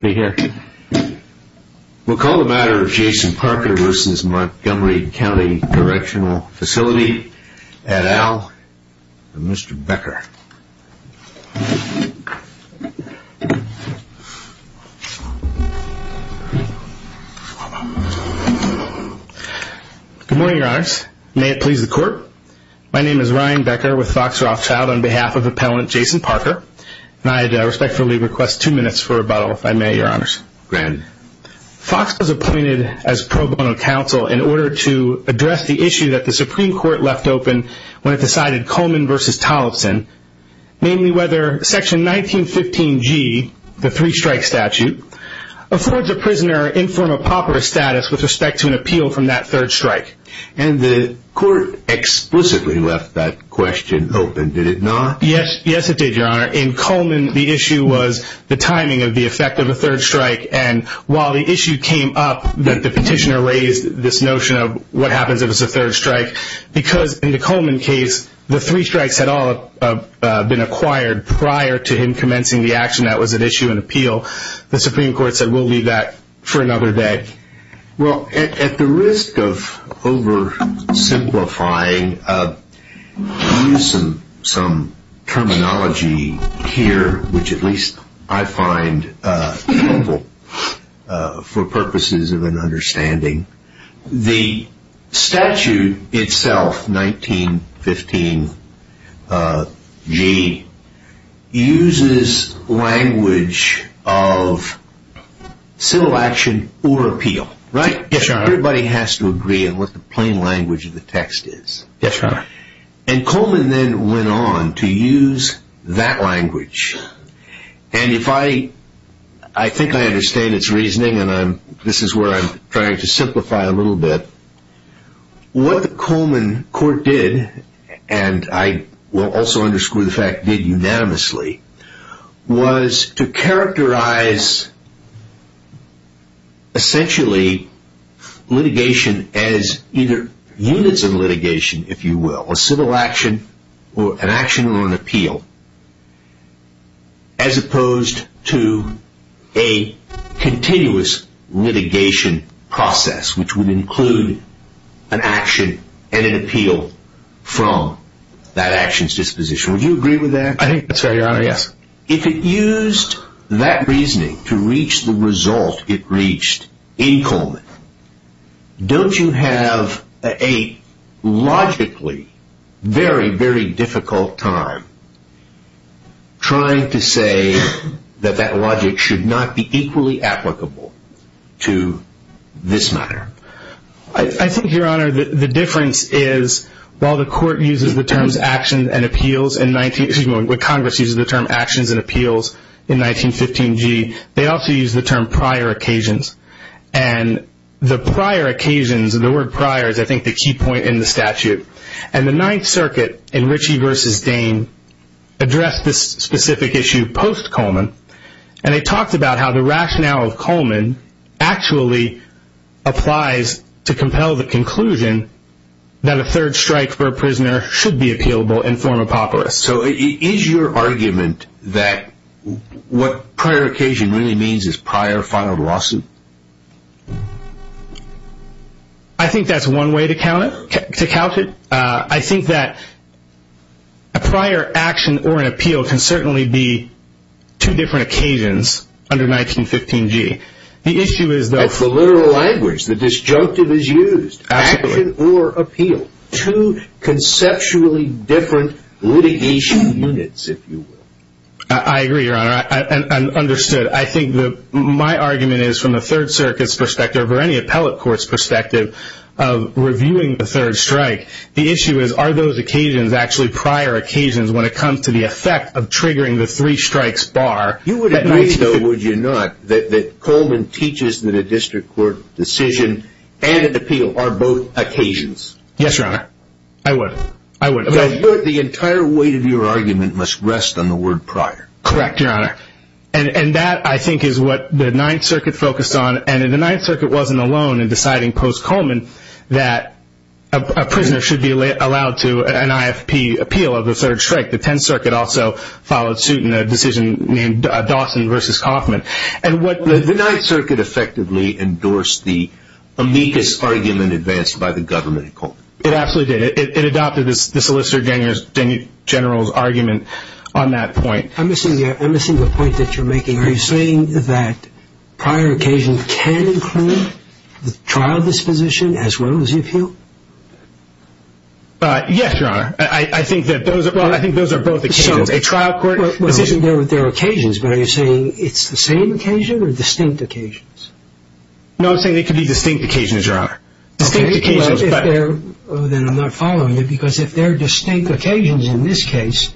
Facility at Al and Mr. Becker. Good morning your honors, may it please the court, my name is Ryan Becker with Fox Rothschild on behalf of Appellant Jason Parker and I respectfully request two minutes for rebuttal if I may your honors. Go ahead. Fox was appointed as pro bono counsel in order to address the issue that the Supreme Court left open when it decided Coleman vs. Tollefson, namely whether section 1915G, the three strike statute, affords a prisoner infirm or pauper status with respect to an appeal from that third strike. And the court explicitly left that question open, did it not? Yes it did your honor, in Coleman the issue was the timing of the effect of a third strike and while the issue came up that the petitioner raised this notion of what happens if it's a third strike, because in the Coleman case the three strikes had all been acquired prior to him commencing the action that was at issue in appeal, the Supreme Court said we'll leave that for another day. Well at the risk of oversimplifying, I'll use some terminology here which at least I find helpful for purposes of an understanding, the statute itself, 1915G, uses language of civil action or appeal. Everybody has to agree on what the plain language of the text is. Yes your honor. And Coleman then went on to use that language and if I, I think I understand its reasoning and this is where I'm trying to simplify a little bit, what the Coleman court did and I will also underscore the fact did unanimously, was to characterize essentially litigation as either units of litigation if you will, a civil action or an action or an appeal, as opposed to a continuous litigation process which would include an action and an appeal from that action's disposition. Would you agree with that? I think that's right your honor, yes. If it used that reasoning to reach the result it reached in Coleman, don't you have a logically very very difficult time trying to say that that logic should not be equally applicable to this matter? I think your honor the difference is while the court uses the terms action and appeals in 19, excuse me, when Congress uses the term actions and appeals in 1915G, they also use the term prior occasions and the prior occasions, the word prior is I think the key point in the statute and the Ninth Circuit in Ritchie versus Dane addressed this specific issue post Coleman and they talked about how the rationale of Coleman actually applies to compel the conclusion that a third strike for a prisoner should be appealable in form of papyrus. So is your argument that what prior occasion really means is prior filed lawsuit? I think that's one way to count it. I think that a prior action or an appeal can certainly be two different occasions under 1915G. The issue is the literal language, the disjunctive is used, action or appeal, two conceptually different litigation units if you will. I agree your honor, I'm understood. I think my argument is from the Third Circuit's perspective or any appellate court's perspective of reviewing the third strike, the issue is are those occasions actually prior occasions when it comes to the effect of triggering the three strikes bar. You would agree though would you not that Coleman teaches that a district court decision and an appeal are both occasions? Yes your honor, I would. The entire weight of your argument must rest on the word prior. Correct your honor and that I think is what the Ninth Circuit focused on and the Ninth Circuit wasn't alone in deciding post Coleman that a prisoner should be allowed to, and appeal of the third strike. The Tenth Circuit also followed suit in a decision named Dawson versus Coffman and what the Ninth Circuit effectively endorsed the amicus argument advanced by the government. It absolutely did. It adopted the Solicitor General's argument on that point. I'm missing the point that you're making. Are you saying that prior occasions can include the trial disposition as well as the appeal? Yes your honor. I think that those are both occasions. A trial court decision. They're occasions but are you saying it's the same occasion or distinct occasions? No I'm saying they can be distinct occasions your honor. Distinct occasions but... Then I'm not following you because if they're distinct occasions in this case,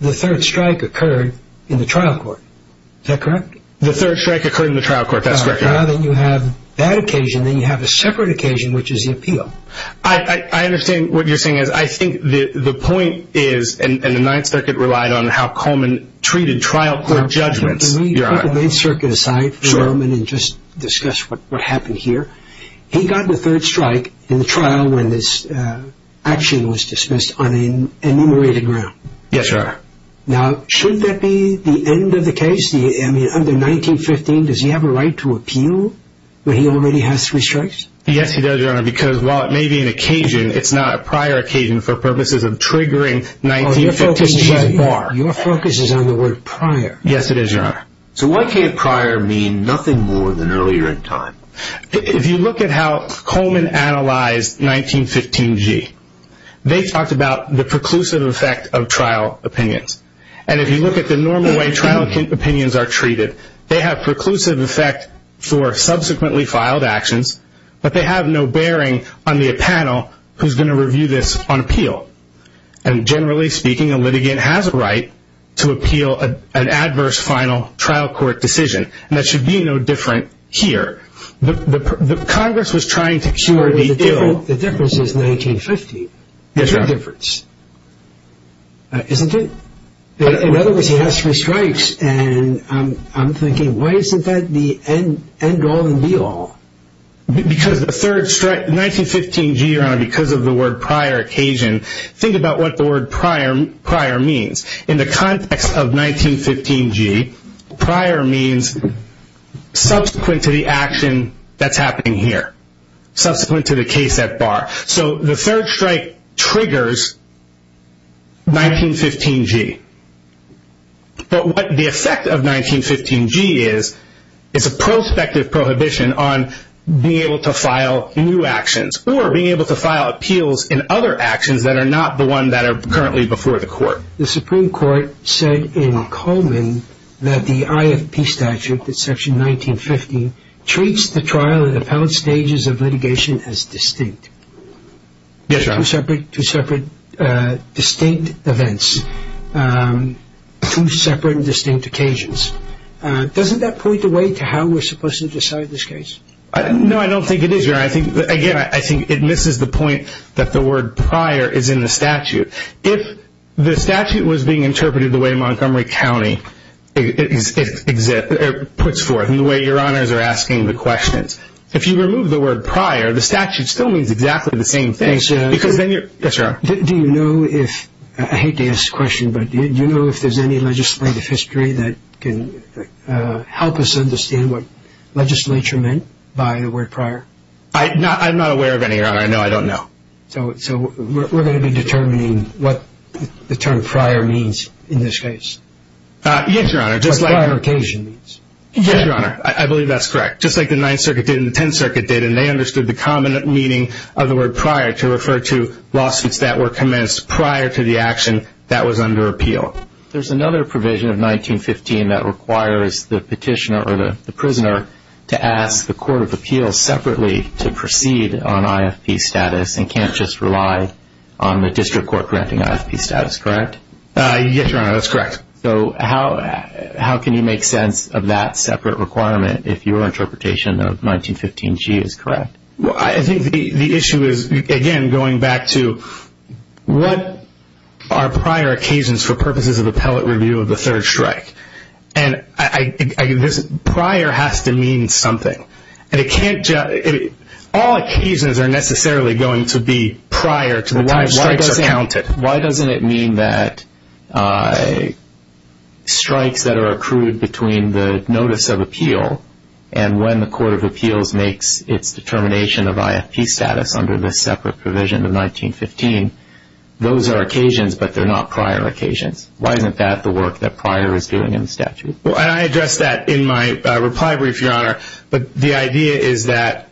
the third strike occurred in the trial court. Is that correct? The third strike occurred in the trial court, that's correct your honor. Now that you have that occasion, then you have a separate occasion which is the appeal. I understand what you're saying. I think the point is, and the Ninth Circuit relied on how Coleman treated trial court judgments. Let's put the Ninth Circuit aside for a moment and just discuss what happened here. He got the third strike in the trial when this action was dismissed on an enumerated ground. Yes your honor. Now should that be the end of the case? Under 1915, does he have a right to appeal when he already has three strikes? Yes he does your honor because while it may be an occasion, it's not a prior occasion for purposes of triggering 1915's bar. Your focus is on the word prior. Yes it is your honor. So why can't prior mean nothing more than earlier in time? If you look at how Coleman analyzed 1915G, they talked about the preclusive effect of trial opinions. And if you look at the normal way trial opinions are treated, they have preclusive effect for subsequently filed actions, but they have no bearing on the panel who is going to review this on appeal. And generally speaking, a litigant has a right to appeal an adverse final trial court decision. And that should be no different here. Congress was trying to cure the ill. The difference is 1915. Yes your honor. There's a difference. Isn't it? In other words, he has three strikes and I'm thinking why isn't that the end all and be all? Because the third strike, 1915G your honor, because of the word prior occasion, think about what the word prior means. In the context of 1915G, prior means subsequent to the action that's happening here. Subsequent to the case at bar. So the third strike triggers 1915G. But what the effect of 1915G is, is a prospective prohibition on being able to file new actions or being able to file appeals in other actions that are not the one that are currently before the court. The Supreme Court said in Coleman that the IFP statute, section 1915, treats the trial and appellate stages of litigation as distinct. Yes your honor. Two separate distinct events. Two separate and distinct occasions. Doesn't that point the way to how we're supposed to decide this case? No, I don't think it is your honor. Again, I think it misses the point that the word prior is in the statute. If the statute was being interpreted the way Montgomery County puts forth, and the way your honors are asking the questions, if you remove the word prior, the statute still means exactly the same thing. Do you know if, I hate to ask the question, but do you know if there's any legislative history that can help us understand what legislature meant by the word prior? I'm not aware of any, your honor. I don't know. So we're going to be determining what the term prior means in this case. Yes, your honor. What prior occasion means. Yes, your honor. I believe that's correct. Just like the 9th Circuit did and the 10th Circuit did, and they understood the common meaning of the word prior to refer to lawsuits that were commenced prior to the action that was under appeal. There's another provision of 1915 that requires the petitioner or the prisoner to ask the court of appeals separately to proceed on IFP status and can't just rely on the district court granting IFP status, correct? Yes, your honor. That's correct. So how can you make sense of that separate requirement if your interpretation of 1915G is correct? I think the issue is, again, going back to what are prior occasions for purposes of appellate review of the third strike? And this prior has to mean something. All occasions are necessarily going to be prior to the time strikes are counted. Why doesn't it mean that strikes that are accrued between the notice of appeal and when the court of appeals makes its determination of IFP status under this separate provision of 1915, those are occasions, but they're not prior occasions. Why isn't that the work that prior is doing in the statute? I addressed that in my reply brief, your honor. But the idea is that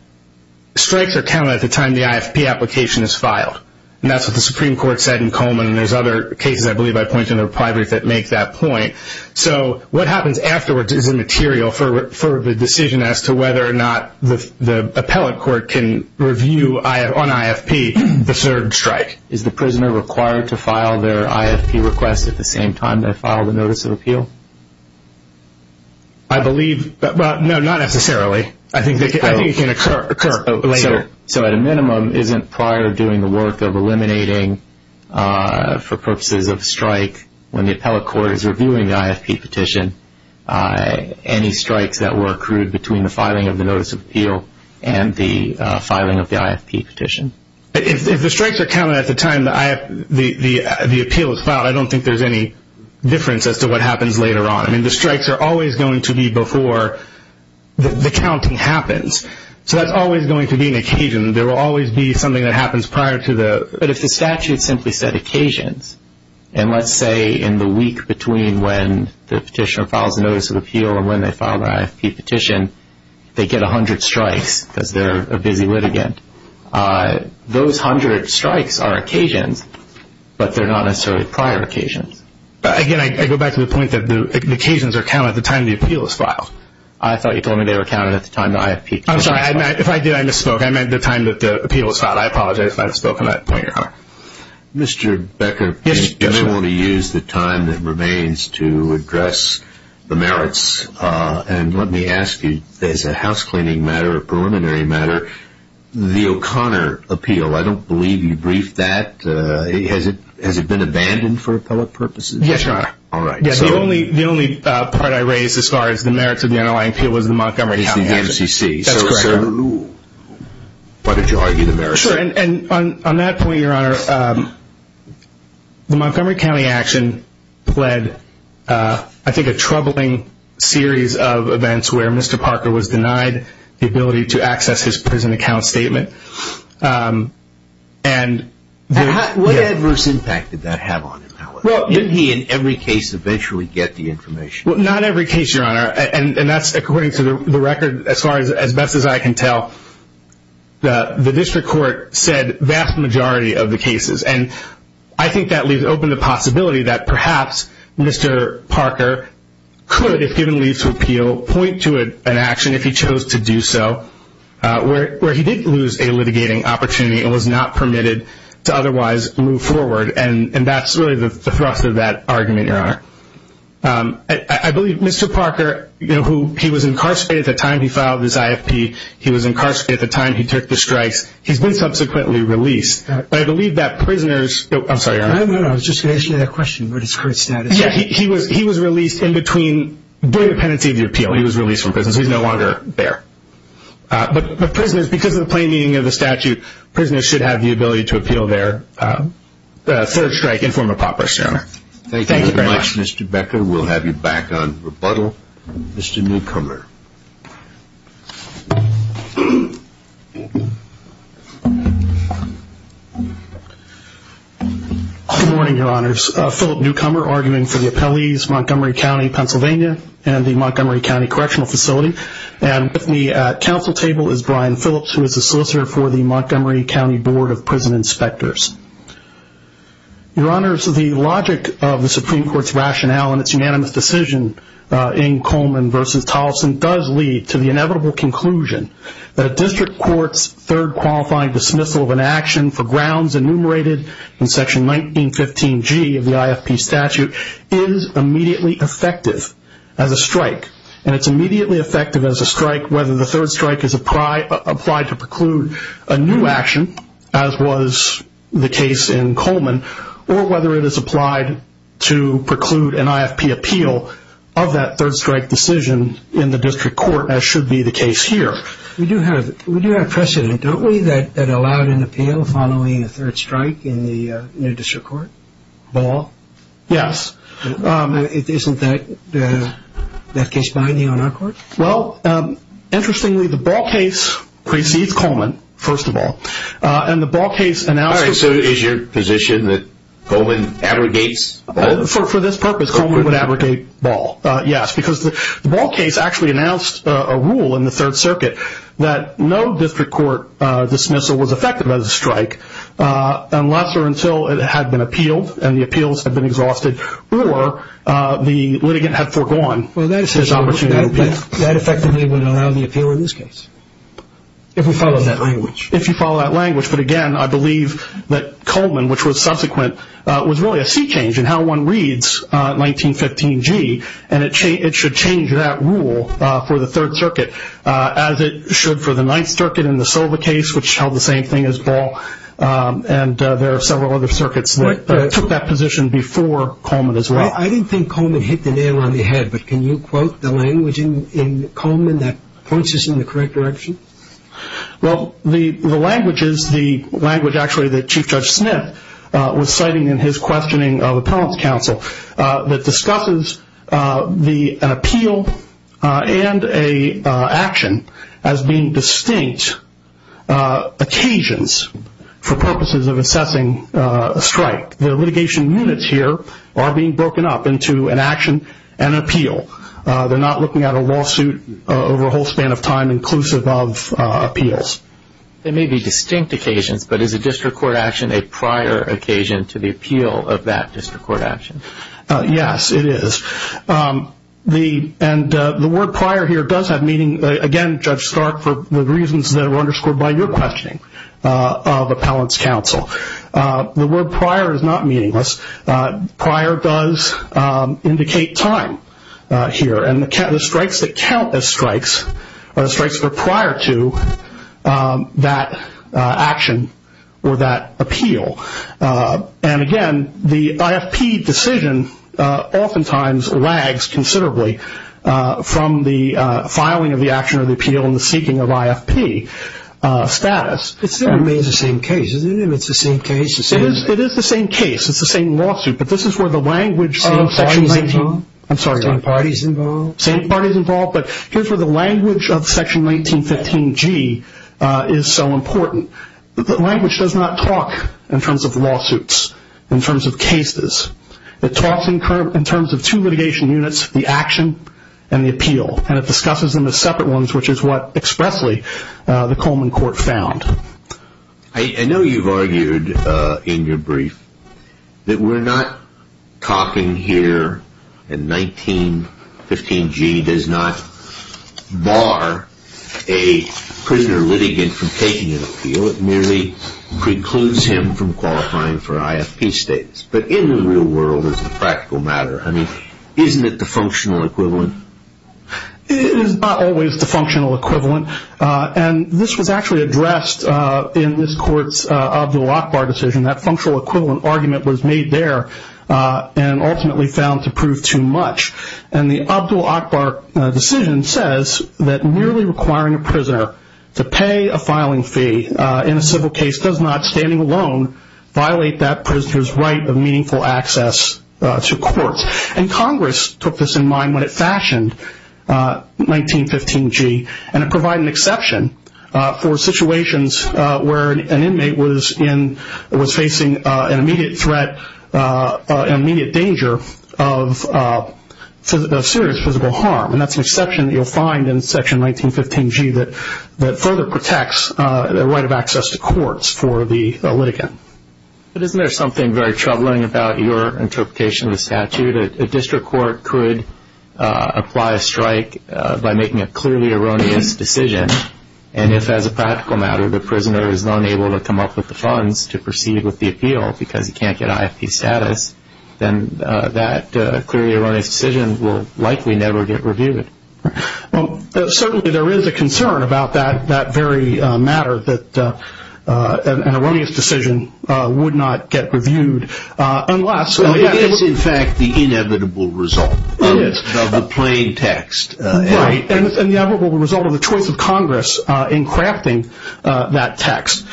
strikes are counted at the time the IFP application is filed. And that's what the Supreme Court said in Coleman, and there's other cases I believe I pointed in the reply brief that make that point. So what happens afterwards is immaterial for the decision as to whether or not the appellate court can review on IFP the third strike. Is the prisoner required to file their IFP request at the same time they file the notice of appeal? I believe, well, no, not necessarily. I think it can occur later. So at a minimum, isn't prior doing the work of eliminating for purposes of strike when the appellate court is reviewing the IFP petition any strikes that were accrued between the filing of the notice of appeal and the filing of the IFP petition? If the strikes are counted at the time the appeal is filed, I don't think there's any difference as to what happens later on. I mean, the strikes are always going to be before the counting happens. So that's always going to be an occasion. There will always be something that happens prior to the – But if the statute simply said occasions, and let's say in the week between when the petitioner files the notice of appeal and when they file their IFP petition, they get 100 strikes because they're a busy litigant. Those 100 strikes are occasions, but they're not necessarily prior occasions. Again, I go back to the point that the occasions are counted at the time the appeal is filed. I thought you told me they were counted at the time the IFP – I'm sorry. If I did, I misspoke. I meant the time that the appeal was filed. I apologize if I've spoken at that point, Your Honor. Mr. Becker, if anyone would use the time that remains to address the merits, and let me ask you, as a housecleaning matter, a preliminary matter, the O'Connor appeal, I don't believe you briefed that. Has it been abandoned for appellate purposes? Yes, Your Honor. All right. The only part I raised as far as the merits of the underlying appeal was the Montgomery County – That's correct, Your Honor. Why did you argue the merits? On that point, Your Honor, the Montgomery County action led, I think, a troubling series of events where Mr. Parker was denied the ability to access his prison account statement. What adverse impact did that have on him? Didn't he, in every case, eventually get the information? Well, not every case, Your Honor, and that's according to the record, as far as I can tell. The district court said the vast majority of the cases, and I think that leaves open the possibility that perhaps Mr. Parker could, if given leave to appeal, point to an action if he chose to do so where he did lose a litigating opportunity and was not permitted to otherwise move forward, and that's really the thrust of that argument, Your Honor. I believe Mr. Parker, you know, he was incarcerated at the time he filed his IFP. He was incarcerated at the time he took the strikes. He's been subsequently released. But I believe that prisoners – I'm sorry, Your Honor. No, no, no. I was just going to ask you that question. What is his current status? Yeah, he was released in between the pendency of the appeal. He was released from prison, so he's no longer there. But prisoners, because of the plain meaning of the statute, prisoners should have the ability to appeal their third strike in form of property, Your Honor. Thank you very much, Mr. Becker. We'll have you back on rebuttal. Mr. Newcomer. Good morning, Your Honors. Philip Newcomer, arguing for the appellees, Montgomery County, Pennsylvania, and the Montgomery County Correctional Facility. And with me at council table is Brian Phillips, who is a solicitor for the Montgomery County Board of Prison Inspectors. Your Honors, the logic of the Supreme Court's rationale and its unanimous decision in Coleman v. Tolleson does lead to the inevitable conclusion that a district court's third qualifying dismissal of an action for grounds enumerated in Section 1915G of the IFP statute is immediately effective as a strike. And it's immediately effective as a strike whether the third strike is applied to preclude a new action, as was the case in Coleman, or whether it is applied to preclude an IFP appeal of that third strike decision in the district court, as should be the case here. We do have precedent, don't we, that allowed an appeal following a third strike in the new district court? Ball? Yes. Isn't that case binding on our court? Well, interestingly, the Ball case precedes Coleman, first of all. All right, so is your position that Coleman abrogates Ball? For this purpose, Coleman would abrogate Ball, yes, because the Ball case actually announced a rule in the Third Circuit that no district court dismissal was effective as a strike unless or until it had been appealed, and the appeals had been exhausted, or the litigant had foregone his opportunity to appeal. That effectively would allow the appeal in this case, if we follow that language. If you follow that language, but again, I believe that Coleman, which was subsequent, was really a sea change in how one reads 1915G, and it should change that rule for the Third Circuit, as it should for the Ninth Circuit in the Silva case, which held the same thing as Ball, and there are several other circuits that took that position before Coleman as well. I didn't think Coleman hit the nail on the head, but can you quote the language in Coleman that points us in the correct direction? Well, the language is the language, actually, that Chief Judge Smith was citing in his questioning of appellant's counsel that discusses an appeal and an action as being distinct occasions for purposes of assessing a strike. The litigation units here are being broken up into an action and an appeal. They're not looking at a lawsuit over a whole span of time inclusive of appeals. They may be distinct occasions, but is a district court action a prior occasion to the appeal of that district court action? Yes, it is, and the word prior here does have meaning, again, Judge Stark, for the reasons that were underscored by your questioning of appellant's counsel. The word prior is not meaningless. Prior does indicate time here, and the strikes that count as strikes are the strikes that are prior to that action or that appeal. And again, the IFP decision oftentimes lags considerably from the filing of the action or the appeal and the seeking of IFP status. It still remains the same case, isn't it? It's the same case. It is the same case. It's the same lawsuit, but this is where the language of Section 19- Are all parties involved? I'm sorry. Are all parties involved? Same parties involved, but here's where the language of Section 1915G is so important. The language does not talk in terms of lawsuits, in terms of cases. It talks in terms of two litigation units, the action and the appeal, and it discusses them as separate ones, which is what expressly the Coleman Court found. I know you've argued in your brief that we're not talking here, and 1915G does not bar a prisoner litigant from taking an appeal. It merely precludes him from qualifying for IFP status. But in the real world, as a practical matter, isn't it the functional equivalent? It is not always the functional equivalent, and this was actually addressed in this court's Abdul-Akbar decision. That functional equivalent argument was made there and ultimately found to prove too much. And the Abdul-Akbar decision says that merely requiring a prisoner to pay a filing fee in a civil case does not, standing alone, violate that prisoner's right of meaningful access to courts. And Congress took this in mind when it fashioned 1915G, and it provided an exception for situations where an inmate was facing an immediate threat, an immediate danger of serious physical harm. And that's an exception that you'll find in Section 1915G that further protects the right of access to courts for the litigant. But isn't there something very troubling about your interpretation of the statute? A district court could apply a strike by making a clearly erroneous decision, and if, as a practical matter, the prisoner is unable to come up with the funds to proceed with the appeal because he can't get IFP status, then that clearly erroneous decision will likely never get reviewed. Certainly there is a concern about that very matter that an erroneous decision would not get reviewed unless It is, in fact, the inevitable result of the plain text. Right, and the inevitable result of the choice of Congress in crafting that text.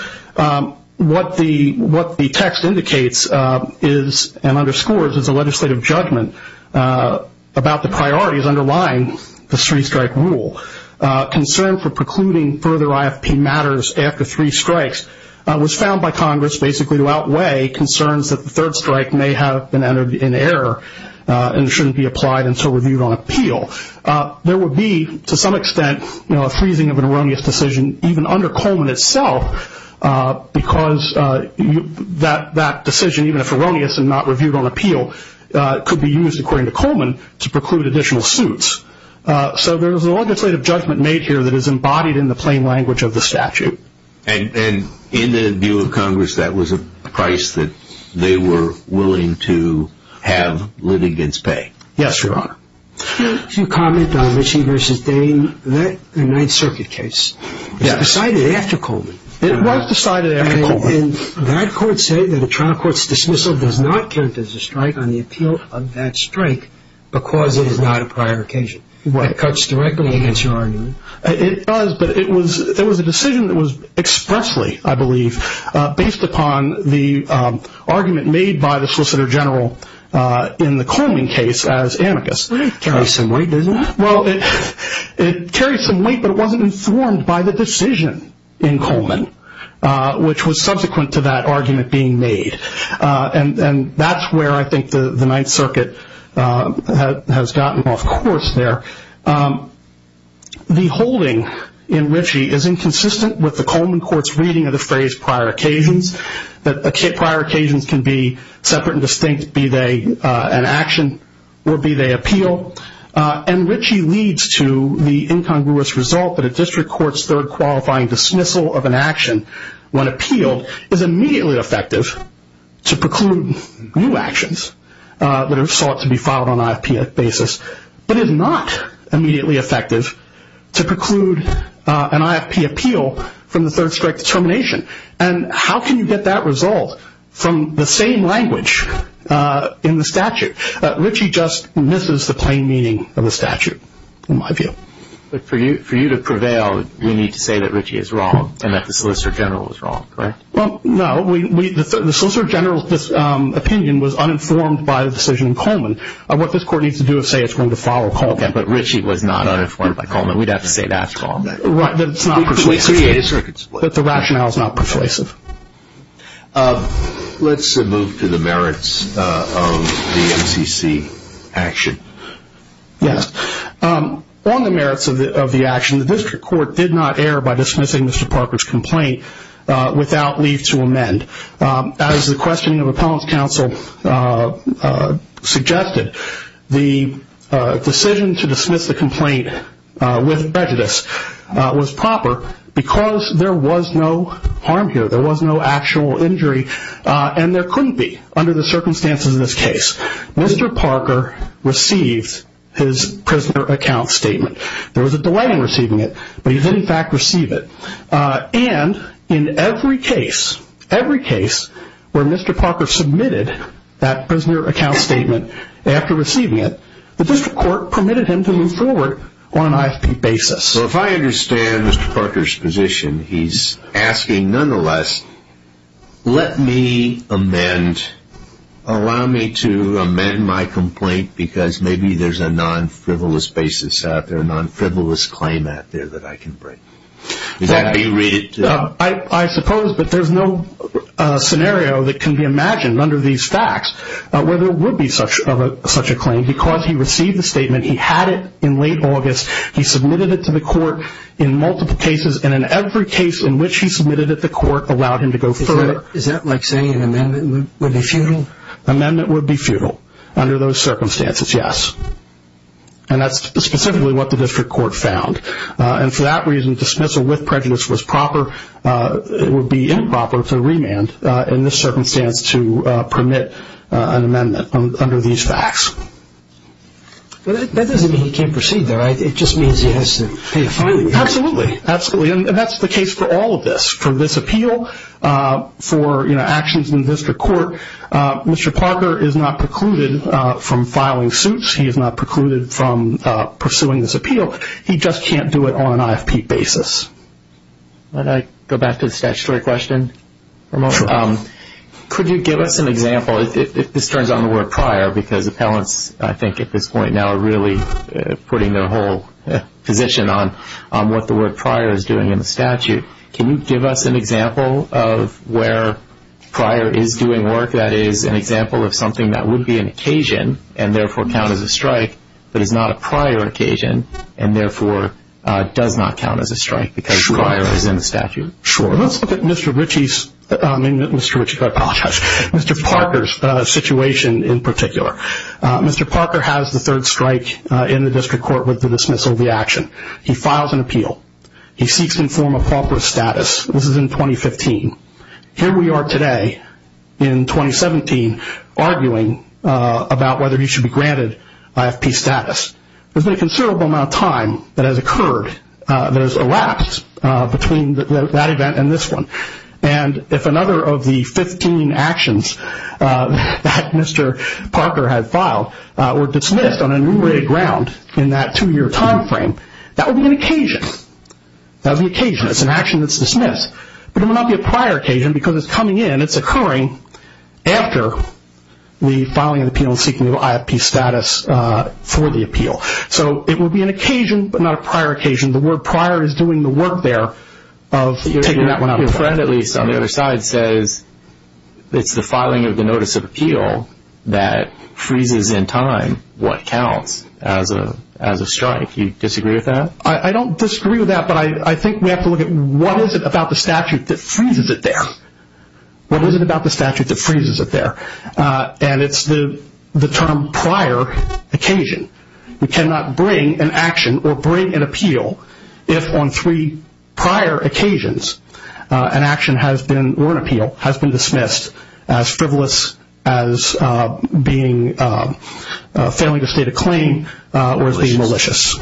What the text indicates and underscores is a legislative judgment about the priorities underlying the three-strike rule. Concern for precluding further IFP matters after three strikes was found by Congress basically to outweigh concerns that the third strike may have been entered in error and shouldn't be applied until reviewed on appeal. There would be, to some extent, a freezing of an erroneous decision, even under Coleman itself, because that decision, even if erroneous and not reviewed on appeal, could be used, according to Coleman, to preclude additional suits. So there is a legislative judgment made here that is embodied in the plain language of the statute. And in the view of Congress, that was a price that they were willing to have litigants pay. Yes, Your Honor. To comment on Ritchie v. Dane, that Ninth Circuit case was decided after Coleman. It was decided after Coleman. And that court said that a trial court's dismissal does not count as a strike on the appeal of that strike because it is not a prior occasion. It cuts directly against your argument. It does, but it was a decision that was expressly, I believe, based upon the argument made by the Solicitor General in the Coleman case as amicus. It carried some weight, didn't it? Well, it carried some weight, but it wasn't informed by the decision in Coleman, which was subsequent to that argument being made. And that's where I think the Ninth Circuit has gotten off course there. The holding in Ritchie is inconsistent with the Coleman court's reading of the phrase prior occasions, that prior occasions can be separate and distinct, be they an action or be they appeal. And Ritchie leads to the incongruous result that a district court's third qualifying dismissal of an action when appealed is immediately effective to preclude new actions that are sought to be filed on an IFP basis. But it is not immediately effective to preclude an IFP appeal from the third strike determination. And how can you get that resolved from the same language in the statute? Ritchie just misses the plain meaning of the statute, in my view. But for you to prevail, you need to say that Ritchie is wrong and that the Solicitor General is wrong, right? Well, no. The Solicitor General's opinion was uninformed by the decision in Coleman. What this court needs to do is say it's going to follow Coleman. Okay, but Ritchie was not uninformed by Coleman. We'd have to say that to Coleman. Right, but it's not persuasive. We created circuits. But the rationale is not persuasive. Let's move to the merits of the MCC action. Yes. On the merits of the action, the district court did not err by dismissing Mr. Parker's complaint without leave to amend. As the questioning of appellant's counsel suggested, the decision to dismiss the complaint with prejudice was proper because there was no harm here. There was no actual injury, and there couldn't be under the circumstances of this case. Mr. Parker received his prisoner account statement. There was a delay in receiving it, but he did, in fact, receive it. And in every case, every case where Mr. Parker submitted that prisoner account statement after receiving it, the district court permitted him to move forward on an IFP basis. So if I understand Mr. Parker's position, he's asking, nonetheless, let me amend, allow me to amend my complaint because maybe there's a non-frivolous basis out there, a non-frivolous claim out there that I can break. Is that how you read it? I suppose, but there's no scenario that can be imagined under these facts where there would be such a claim because he received the statement, he had it in late August, he submitted it to the court in multiple cases, and in every case in which he submitted it, the court allowed him to go forward. Is that like saying an amendment would be futile? Amendment would be futile under those circumstances, yes. And that's specifically what the district court found. And for that reason, dismissal with prejudice was proper. It would be improper to remand in this circumstance to permit an amendment under these facts. But that doesn't mean he can't proceed there, right? It just means he has to pay a fine. Absolutely, absolutely. And that's the case for all of this. For this appeal, for actions in the district court, Mr. Parker is not precluded from filing suits. He is not precluded from pursuing this appeal. He just can't do it on an IFP basis. Can I go back to the statutory question for a moment? Could you give us an example, if this turns on the word prior, because appellants I think at this point now are really putting their whole position on what the word prior is doing in the statute. Can you give us an example of where prior is doing work, that is an example of something that would be an occasion and therefore count as a strike, but is not a prior occasion and therefore does not count as a strike because prior is in the statute? Sure. Let's look at Mr. Ritchie's, I mean Mr. Ritchie, I apologize, Mr. Parker's situation in particular. Mr. Parker has the third strike in the district court with the dismissal of the action. He files an appeal. He seeks to inform a proper status. This is in 2015. Here we are today in 2017 arguing about whether he should be granted IFP status. There's been a considerable amount of time that has occurred, that has elapsed between that event and this one. If another of the 15 actions that Mr. Parker had filed were dismissed on enumerated ground in that two-year time frame, that would be an occasion. That would be an occasion. It's an action that's dismissed. But it would not be a prior occasion because it's coming in. It's occurring after the filing of the appeal and seeking IFP status for the appeal. So it would be an occasion, but not a prior occasion. The word prior is doing the work there of taking that one out of there. Your friend, at least, on the other side says it's the filing of the notice of appeal that freezes in time what counts as a strike. Do you disagree with that? I don't disagree with that, but I think we have to look at what is it about the statute that freezes it there? What is it about the statute that freezes it there? And it's the term prior occasion. We cannot bring an action or bring an appeal if on three prior occasions an action has been, or an appeal, has been dismissed as frivolous, as failing to state a claim, or as being malicious.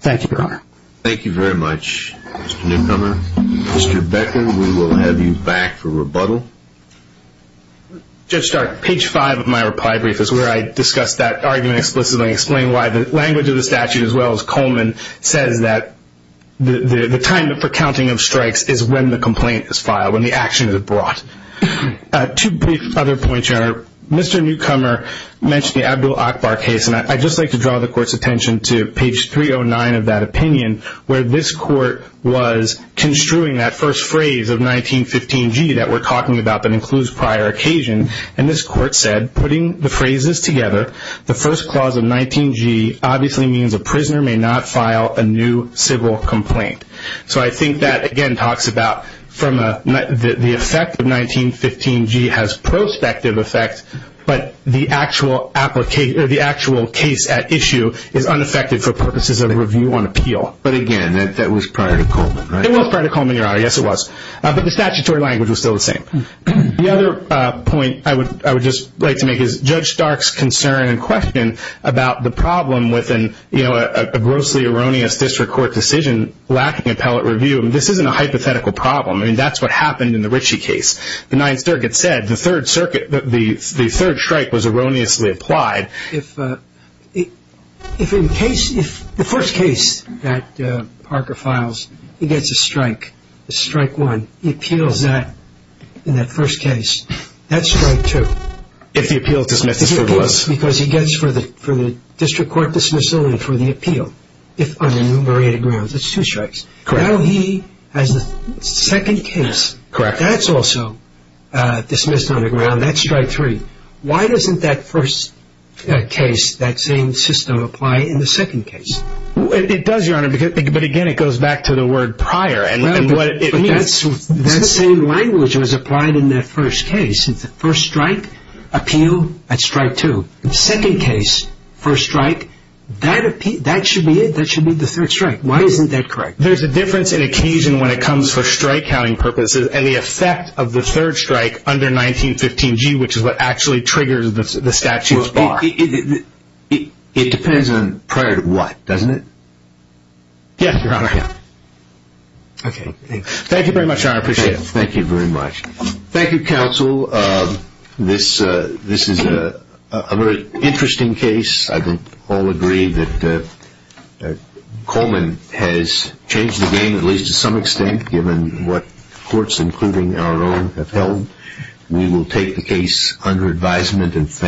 Thank you, Your Honor. Thank you very much, Mr. Newcomer. Mr. Becker, we will have you back for rebuttal. Judge Stark, page five of my reply brief is where I discuss that argument explicitly and explain why the language of the statute, as well as Coleman, says that the time for counting of strikes is when the complaint is filed, when the action is brought. Two brief other points, Your Honor. Mr. Newcomer mentioned the Abdul-Akbar case, and I'd just like to draw the Court's attention to page 309 of that opinion, where this Court was construing that first phrase of 1915G that we're talking about but includes prior occasion. And this Court said, putting the phrases together, the first clause of 1915G obviously means a prisoner may not file a new civil complaint. So I think that, again, talks about the effect of 1915G has prospective effect, but the actual case at issue is unaffected for purposes of review on appeal. But, again, that was prior to Coleman, right? It was prior to Coleman, Your Honor. Yes, it was. But the statutory language was still the same. The other point I would just like to make is Judge Stark's concern and question about the problem with a grossly erroneous district court decision lacking appellate review. This isn't a hypothetical problem. I mean, that's what happened in the Ritchie case. The Ninth Circuit said the third strike was erroneously applied. The first case that Parker files, he gets a strike, a strike one. He appeals that in that first case. That's strike two. If the appeal is dismissed as it was. Because he gets for the district court dismissal and for the appeal, if unenumerated grounds. That's two strikes. Now he has the second case. That's also dismissed on the ground. That's strike three. Why doesn't that first case, that same system, apply in the second case? It does, Your Honor. But, again, it goes back to the word prior. That same language was applied in that first case. First strike, appeal at strike two. Second case, first strike, that should be it. That should be the third strike. Why isn't that correct? There's a difference in occasion when it comes for strike counting purposes. And the effect of the third strike under 1915G, which is what actually triggers the statute's bar. It depends on prior to what, doesn't it? Yes, Your Honor. Okay. Thank you very much, Your Honor. I appreciate it. Thank you very much. Thank you, counsel. This is a very interesting case. I would all agree that Coleman has changed the game, at least to some extent, given what courts, including our own, have held. We will take the case under advisement.